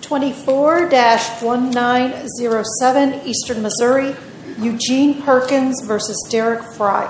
24-1907 Eastern Missouri, Eugene Perkins v. Derrick Frye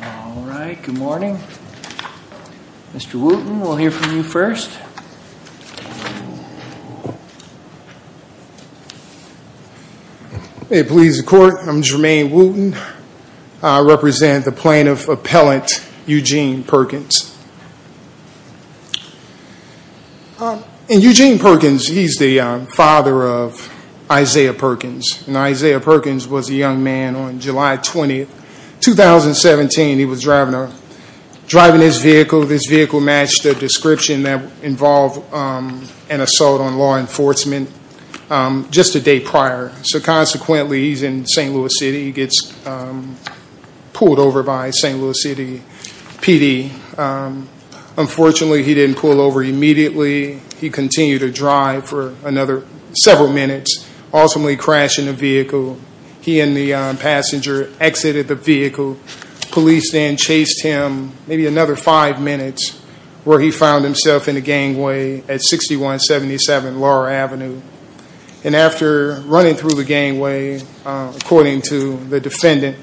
All right, good morning. Mr. Wooten, we'll hear from you first. Hey, police and court, I'm Jermaine Wooten. I represent the plaintiff appellant Eugene Perkins. And Eugene Perkins, he's the father of Isaiah Perkins. Isaiah Perkins was a young man on July 20, 2017. He was driving his vehicle. This vehicle matched the description that involved an assault on law enforcement just a day prior. So consequently, he's in St. Louis City. He gets pulled over by St. Louis City PD. Unfortunately, he didn't pull over immediately. He continued to drive for another several minutes, ultimately crashing the vehicle. He and the passenger exited the vehicle. Police then chased him maybe another five minutes, where he found himself in the gangway at 6177 Laurel Avenue. And after running through the gangway, according to the defendant,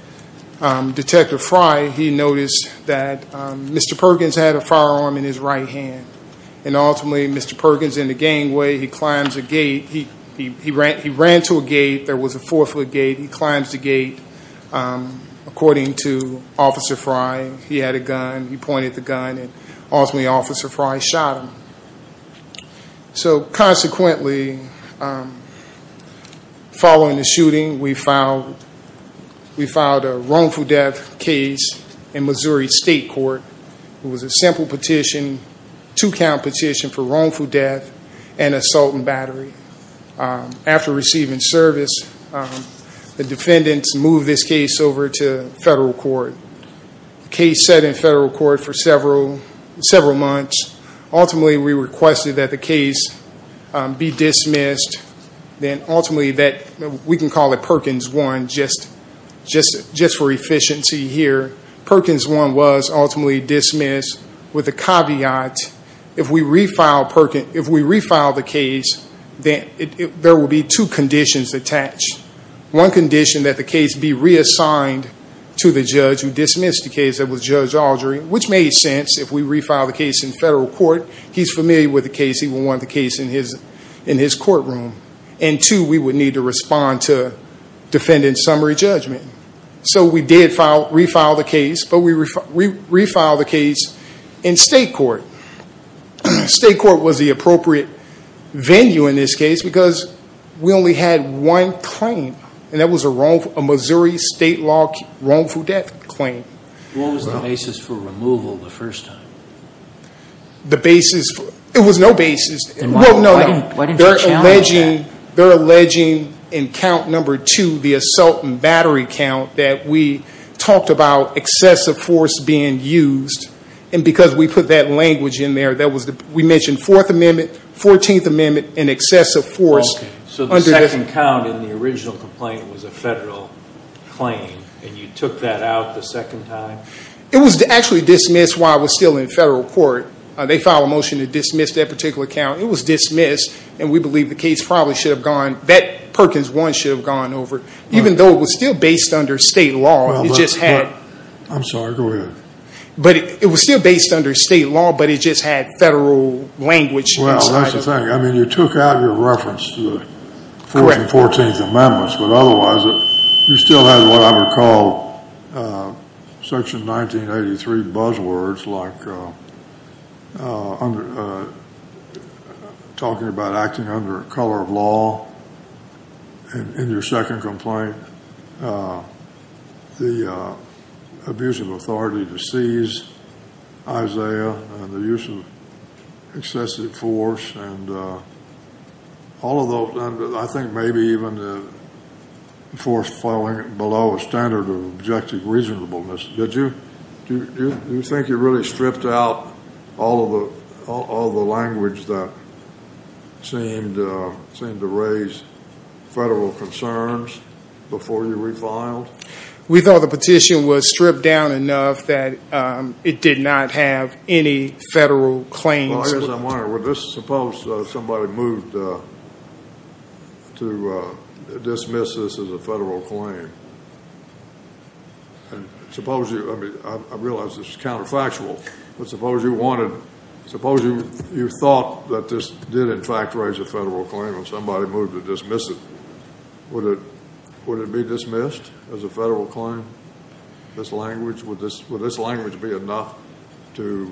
Detective Frye, he noticed that Mr. Perkins had a firearm in his right hand. And ultimately, Mr. Perkins, in the gangway, he climbs a gate. He ran to a gate. There was a four-foot gate. He climbs the gate. According to Officer Frye, he had a gun. He pointed the gun. Ultimately, Officer Frye shot him. So consequently, following the shooting, we filed a wrongful death case in Missouri State Court. It was a simple petition, two-count petition for wrongful death and assault and battery. After receiving service, the defendants moved this case over to federal court. The case sat in federal court for several months. Ultimately, we requested that the case be dismissed. Then ultimately, we can call it Perkins 1, just for efficiency here. Perkins 1 was ultimately dismissed with the caveat, if we refile the case, there will be two conditions attached. One condition that the case be reassigned to the judge who dismissed the case, that was Judge Aldry, which made sense. If we refile the case in federal court, he's familiar with the case. He would want the case in his courtroom. And two, we would need to respond to defendant's summary judgment. So we did refile the case, but we refiled the case in state court. State court was the appropriate venue in this case, because we only had one claim. And that was a Missouri State law wrongful death claim. What was the basis for removal the first time? The basis, it was no basis. Then why didn't you challenge that? They're alleging in count number two, the assault and battery count, that we talked about excessive force being used. And because we put that language in there, we mentioned Fourth Amendment, Fourteenth Amendment, and excessive force. So the second count in the original complaint was a federal claim, and you took that out the second time? It was actually dismissed while it was still in federal court. They filed a motion to dismiss that particular count. It was dismissed, and we believe the case probably should have gone, that Perkins 1 should have gone over. Even though it was still based under state law. I'm sorry, go ahead. But it was still based under state law, but it just had federal language inside of it. Well, that's the thing. I mean, you took out your reference to the Fourteenth Amendment, but otherwise you still had what I would call Section 1983 buzzwords, like talking about acting under a color of law in your second complaint, the abuse of authority to seize Isaiah, and the use of excessive force, and all of those. I think maybe even the force falling below a standard of objective reasonableness. Did you think you really stripped out all of the language that seemed to raise federal concerns before you refiled? We thought the petition was stripped down enough that it did not have any federal claims. I guess I'm wondering, suppose somebody moved to dismiss this as a federal claim. I realize this is counterfactual, but suppose you thought that this did, in fact, raise a federal claim and somebody moved to dismiss it. Would it be dismissed as a federal claim, this language? Would this language be enough to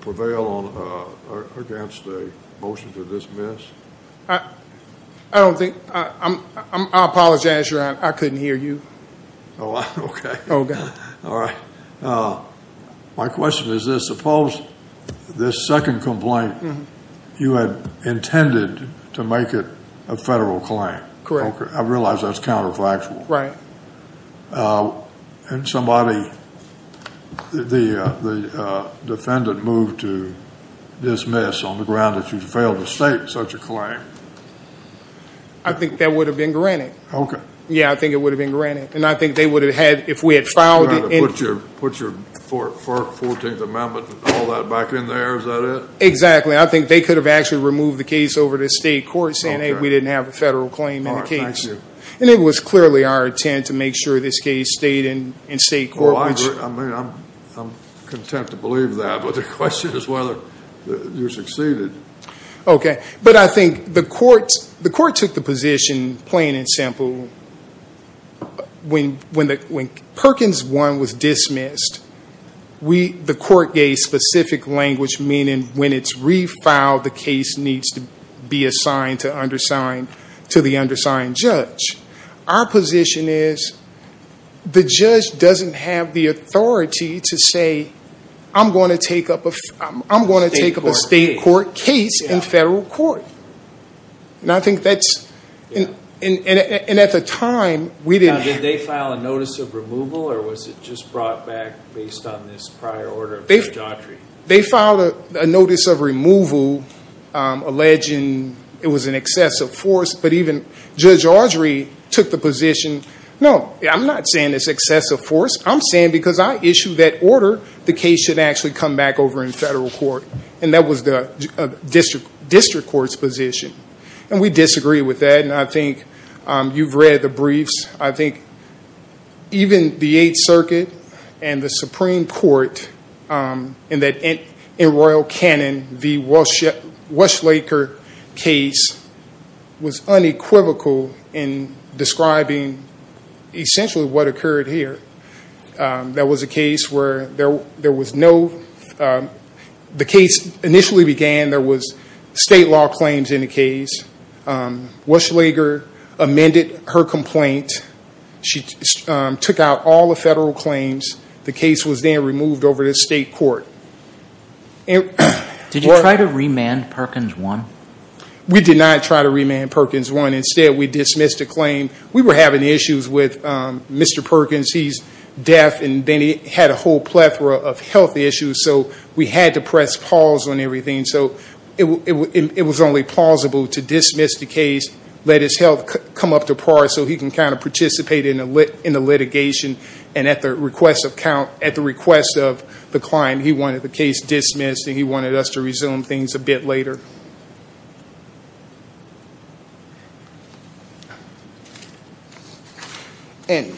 prevail against a motion to dismiss? I apologize, Your Honor. I couldn't hear you. Okay. Oh, God. All right. My question is this. Suppose this second complaint, you had intended to make it a federal claim. Correct. I realize that's counterfactual. Right. And somebody, the defendant moved to dismiss on the ground that you failed to state such a claim. I think that would have been granted. Okay. Yeah, I think it would have been granted. And I think they would have had, if we had filed it. Put your 14th Amendment and all that back in there, is that it? Exactly. I think they could have actually removed the case over to state court saying, hey, we didn't have a federal claim in the case. All right. And it was clearly our intent to make sure this case stayed in state court. Well, I agree. I mean, I'm content to believe that. But the question is whether you succeeded. Okay. But I think the court took the position, plain and simple, when Perkins 1 was dismissed, the court gave specific language meaning when it's refiled, the case needs to be assigned to the undersigned judge. Our position is the judge doesn't have the authority to say, I'm going to take up a state court case in federal court. And I think that's, and at the time, we didn't have. Did they file a notice of removal, or was it just brought back based on this prior order of Judge Audrey? They filed a notice of removal alleging it was an excessive force. But even Judge Audrey took the position, no, I'm not saying it's excessive force. I'm saying because I issued that order, the case should actually come back over in federal court. And that was the district court's position. And we disagree with that. And I think you've read the briefs. I think even the Eighth Circuit and the Supreme Court, in royal canon, the Weschlager case was unequivocal in describing essentially what occurred here. That was a case where there was no, the case initially began, there was state law claims in the case. Weschlager amended her complaint. She took out all the federal claims. The case was then removed over to state court. Did you try to remand Perkins 1? We did not try to remand Perkins 1. Instead, we dismissed the claim. We were having issues with Mr. Perkins. He's deaf, and then he had a whole plethora of health issues. So we had to press pause on everything. So it was only plausible to dismiss the case, let his health come up to par so he can kind of participate in the litigation. And at the request of the client, he wanted the case dismissed, and he wanted us to resume things a bit later. And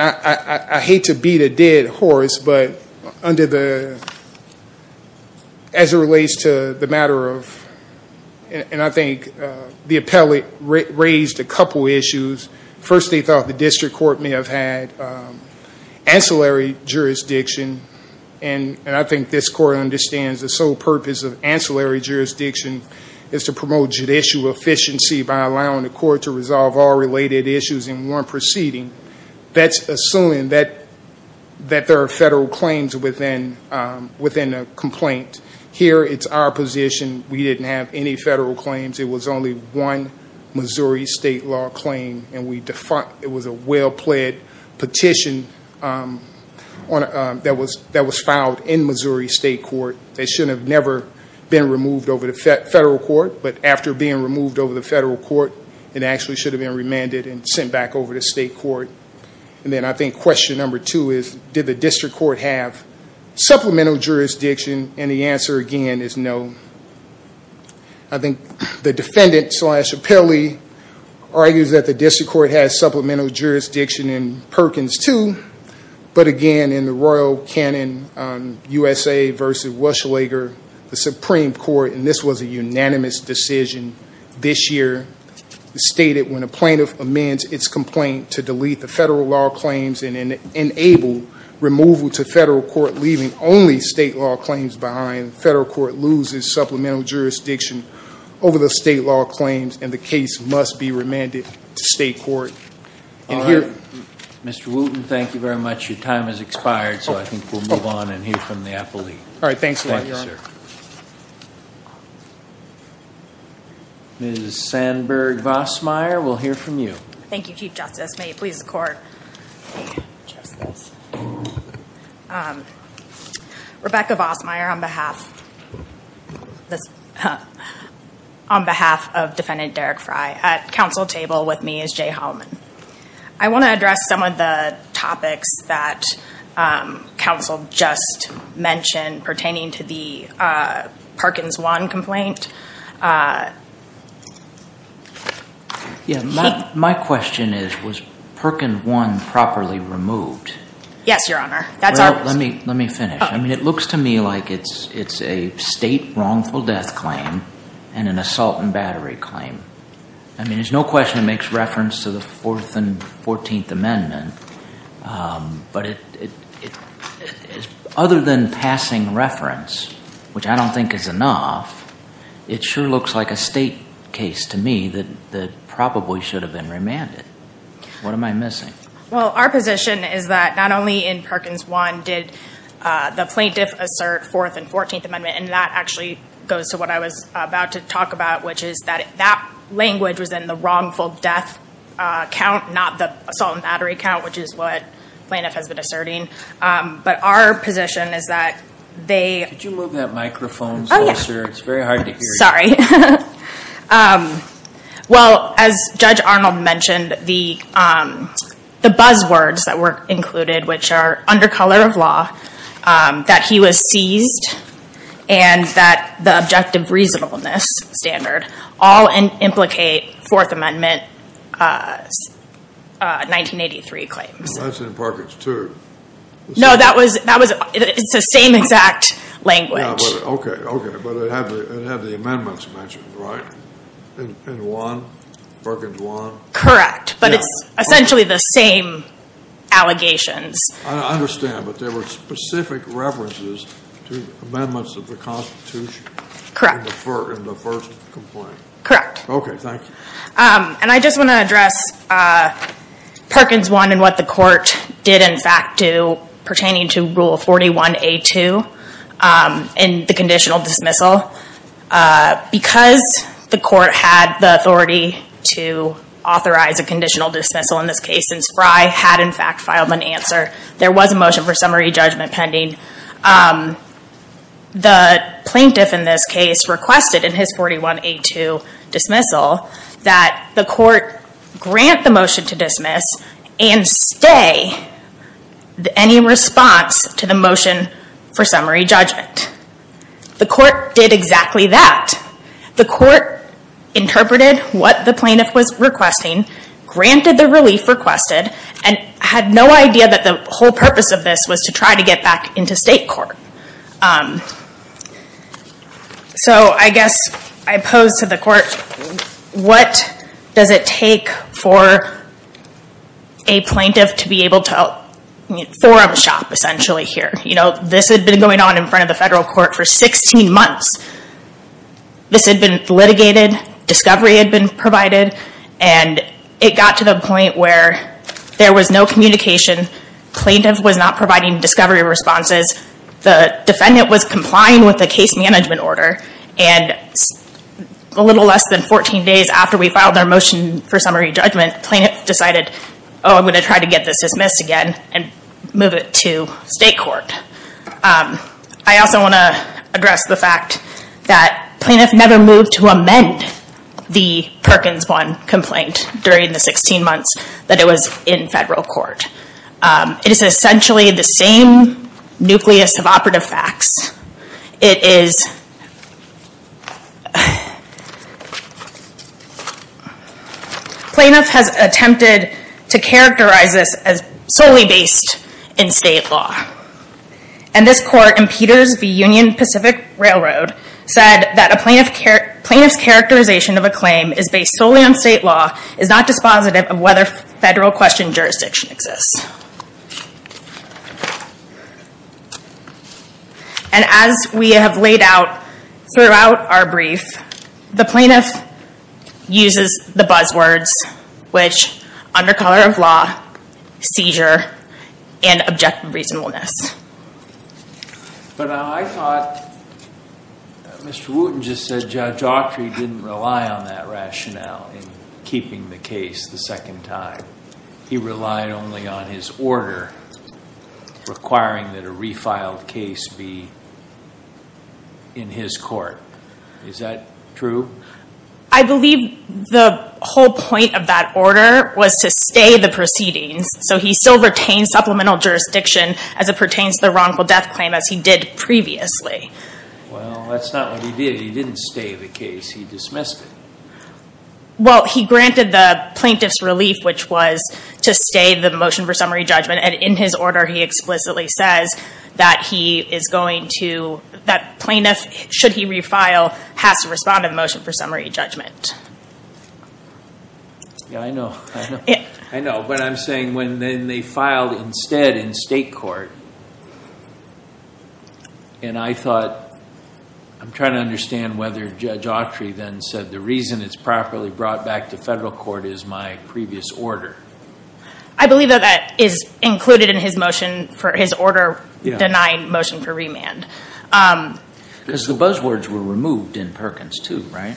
I hate to beat a dead horse, but under the, as it relates to the matter of, and I think the appellate raised a couple issues. First, they thought the district court may have had ancillary jurisdiction. And I think this court understands the sole purpose of ancillary jurisdiction is to promote judicial efficiency by allowing the court to resolve all related issues in one proceeding. That's assuming that there are federal claims within a complaint. Here, it's our position. We didn't have any federal claims. It was only one Missouri state law claim. It was a well-pled petition that was filed in Missouri state court. It should have never been removed over to federal court, but after being removed over to federal court, it actually should have been remanded and sent back over to state court. And then I think question number two is, did the district court have supplemental jurisdiction? And the answer, again, is no. I think the defendant slash appellee argues that the district court has supplemental jurisdiction in Perkins, too. But again, in the royal canon, USA versus Weschlager, the Supreme Court, and this was a unanimous decision this year, stated when a plaintiff amends its complaint to delete the federal law claims and enable removal to federal court, leaving only state law claims behind, the federal court loses supplemental jurisdiction over the state law claims, and the case must be remanded to state court. All right. Mr. Wooten, thank you very much. Your time has expired, so I think we'll move on and hear from the appellee. All right. Thanks a lot, Your Honor. Thank you, sir. Ms. Sandberg-Vosmeyer, we'll hear from you. Thank you, Chief Justice. May it please the Court. Rebecca Vosmeyer on behalf of Defendant Derek Frye. At counsel table with me is Jay Holliman. I want to address some of the topics that counsel just mentioned pertaining to the Perkins 1 complaint. Yeah, my question is, was Perkins 1 properly removed? Yes, Your Honor. That's our question. Let me finish. I mean, it looks to me like it's a state wrongful death claim and an assault and battery claim. I mean, there's no question it makes reference to the Fourth and Fourteenth Amendment, but other than passing reference, which I don't think is enough, it sure looks like a state case to me that probably should have been remanded. What am I missing? Well, our position is that not only in Perkins 1 did the plaintiff assert Fourth and Fourteenth Amendment, and that actually goes to what I was about to talk about, which is that that language was in the wrongful death count, not the assault and battery count, which is what plaintiff has been asserting. But our position is that they- Could you move that microphone closer? It's very hard to hear you. Well, as Judge Arnold mentioned, the buzzwords that were included, which are under color of law, that he was seized, and that the objective reasonableness standard all implicate Fourth Amendment 1983 claims. That's in Perkins 2. No, that was- it's the same exact language. Okay, okay, but it had the amendments mentioned, right, in 1, Perkins 1? Correct, but it's essentially the same allegations. I understand, but there were specific references to amendments of the Constitution- In the first complaint. Correct. Okay, thank you. And I just want to address Perkins 1 and what the court did, in fact, do pertaining to Rule 41A2 in the conditional dismissal. Because the court had the authority to authorize a conditional dismissal in this case, and Spry had, in fact, filed an answer, there was a motion for summary judgment pending. The plaintiff in this case requested in his 41A2 dismissal that the court grant the motion to dismiss and stay any response to the motion for summary judgment. The court did exactly that. The court interpreted what the plaintiff was requesting, granted the relief requested, and had no idea that the whole purpose of this was to try to get back into state court. So I guess I pose to the court, what does it take for a plaintiff to be able to- for a shop, essentially, here? You know, this had been going on in front of the federal court for 16 months. This had been litigated, discovery had been provided, and it got to the point where there was no communication, plaintiff was not providing discovery responses, the defendant was complying with the case management order, and a little less than 14 days after we filed our motion for summary judgment, plaintiff decided, oh, I'm going to try to get this dismissed again and move it to state court. I also want to address the fact that plaintiff never moved to amend the Perkins 1 complaint during the 16 months that it was in federal court. It is essentially the same nucleus of operative facts. It is- Plaintiff has attempted to characterize this as solely based in state law. And this court in Peters v. Union Pacific Railroad said that a plaintiff's characterization of a claim is based solely on state law, is not dispositive of whether federal question jurisdiction exists. And as we have laid out throughout our brief, the plaintiff uses the buzzwords, which under color of law, seizure, and objective reasonableness. But I thought Mr. Wooten just said Judge Autry didn't rely on that rationale in keeping the case the second time. He relied only on his order requiring that a refiled case be in his court. Is that true? I believe the whole point of that order was to stay the proceedings. So he still retained supplemental jurisdiction as it pertains to the wrongful death claim as he did previously. Well, that's not what he did. He didn't stay the case. He dismissed it. Well, he granted the plaintiff's relief, which was to stay the motion for summary judgment. And in his order, he explicitly says that he is going to- that plaintiff, should he refile, has to respond to the motion for summary judgment. Yeah, I know. I know. But I'm saying when they filed instead in state court, and I thought, I'm trying to understand whether Judge Autry then said, the reason it's properly brought back to federal court is my previous order. I believe that that is included in his motion for his order denying motion for remand. Because the buzzwords were removed in Perkins too, right?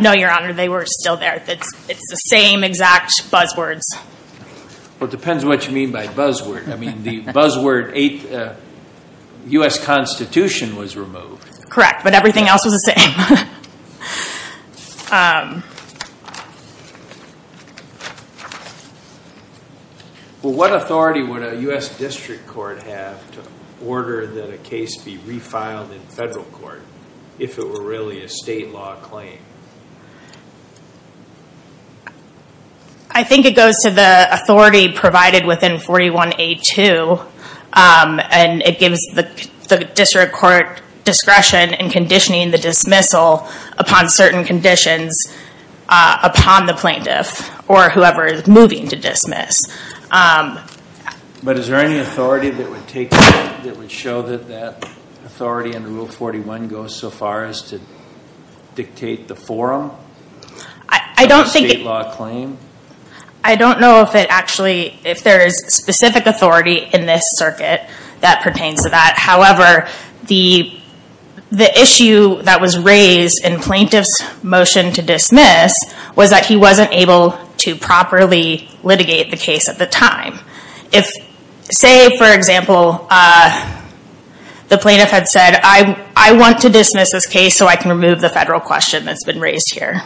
No, Your Honor. They were still there. It's the same exact buzzwords. Well, it depends what you mean by buzzword. I mean, the buzzword, U.S. Constitution was removed. Correct, but everything else was the same. Well, what authority would a U.S. district court have to order that a case be refiled in federal court, if it were really a state law claim? I think it goes to the authority provided within 41A2, and it gives the district court discretion in conditioning the dismissal upon certain conditions upon the plaintiff, or whoever is moving to dismiss. But is there any authority that would take, that would show that that authority under Rule 41 goes so far as to dictate the forum for a state law claim? I don't know if there is specific authority in this circuit that pertains to that. However, the issue that was raised in plaintiff's motion to dismiss was that he wasn't able to properly litigate the case at the time. Say, for example, the plaintiff had said, I want to dismiss this case so I can remove the federal question that's been raised here.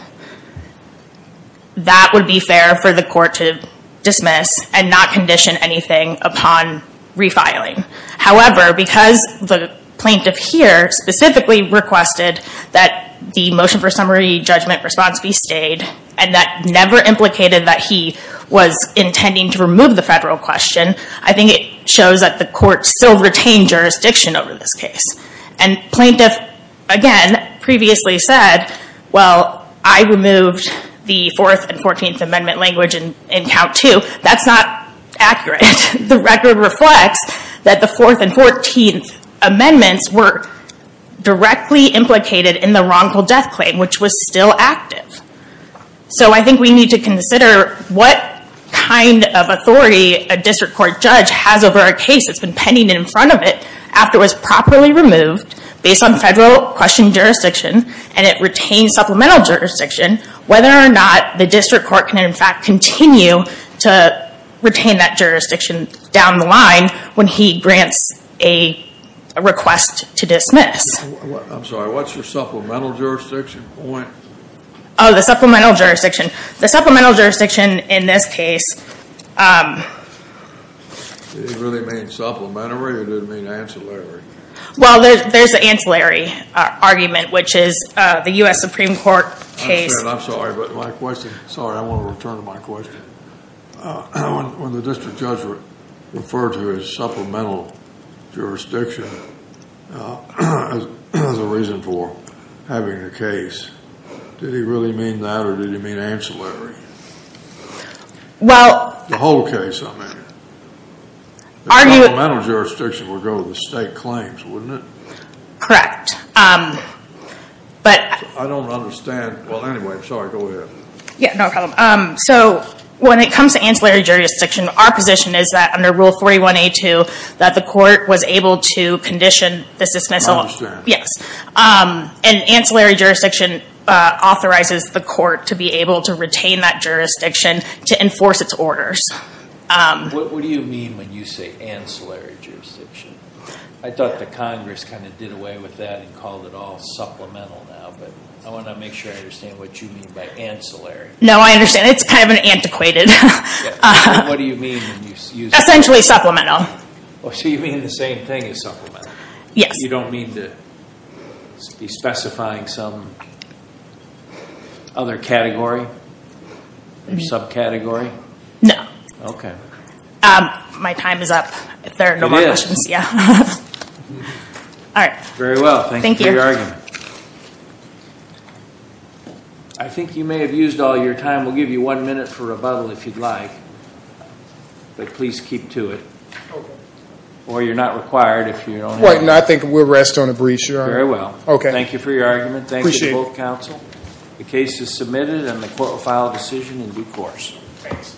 That would be fair for the court to dismiss and not condition anything upon refiling. However, because the plaintiff here specifically requested that the motion for summary judgment response be stayed, and that never implicated that he was intending to remove the federal question, I think it shows that the court still retained jurisdiction over this case. And plaintiff, again, previously said, well, I removed the 4th and 14th Amendment language in Count 2. That's not accurate. The record reflects that the 4th and 14th Amendments were directly implicated in the wrongful death claim, which was still active. So I think we need to consider what kind of authority a district court judge has over a case that's been pending in front of it after it was properly removed, based on federal question jurisdiction, and it retains supplemental jurisdiction, whether or not the district court can in fact continue to retain that jurisdiction down the line when he grants a request to dismiss. I'm sorry, what's your supplemental jurisdiction point? Oh, the supplemental jurisdiction. The supplemental jurisdiction in this case... Does it really mean supplementary or does it mean ancillary? Well, there's the ancillary argument, which is the U.S. Supreme Court case... I understand. I'm sorry, but my question... Sorry, I want to return to my question. When the district judge referred to his supplemental jurisdiction as a reason for having a case, did he really mean that or did he mean ancillary? Well... The whole case, I mean. The supplemental jurisdiction would go to the state claims, wouldn't it? Correct, but... I don't understand. Well, anyway, sorry, go ahead. Yeah, no problem. So, when it comes to ancillary jurisdiction, our position is that under Rule 41A2, that the court was able to condition the dismissal... I understand. Yes. An ancillary jurisdiction authorizes the court to be able to retain that jurisdiction to enforce its orders. What do you mean when you say ancillary jurisdiction? I thought the Congress kind of did away with that and called it all supplemental now, but I want to make sure I understand what you mean by ancillary. No, I understand. It's kind of antiquated. What do you mean? Essentially supplemental. So you mean the same thing as supplemental? Yes. You don't mean to be specifying some other category or subcategory? No. Okay. My time is up. It is? Yeah. All right. Very well. Thank you for your argument. All right. I think you may have used all your time. We'll give you one minute for rebuttal if you'd like, but please keep to it. Okay. Or you're not required if you don't have... I think we'll rest on a breach, Your Honor. Very well. Okay. Thank you for your argument. Appreciate it. Thank you to both counsel. The case is submitted and the court will file a decision in due course. Thanks.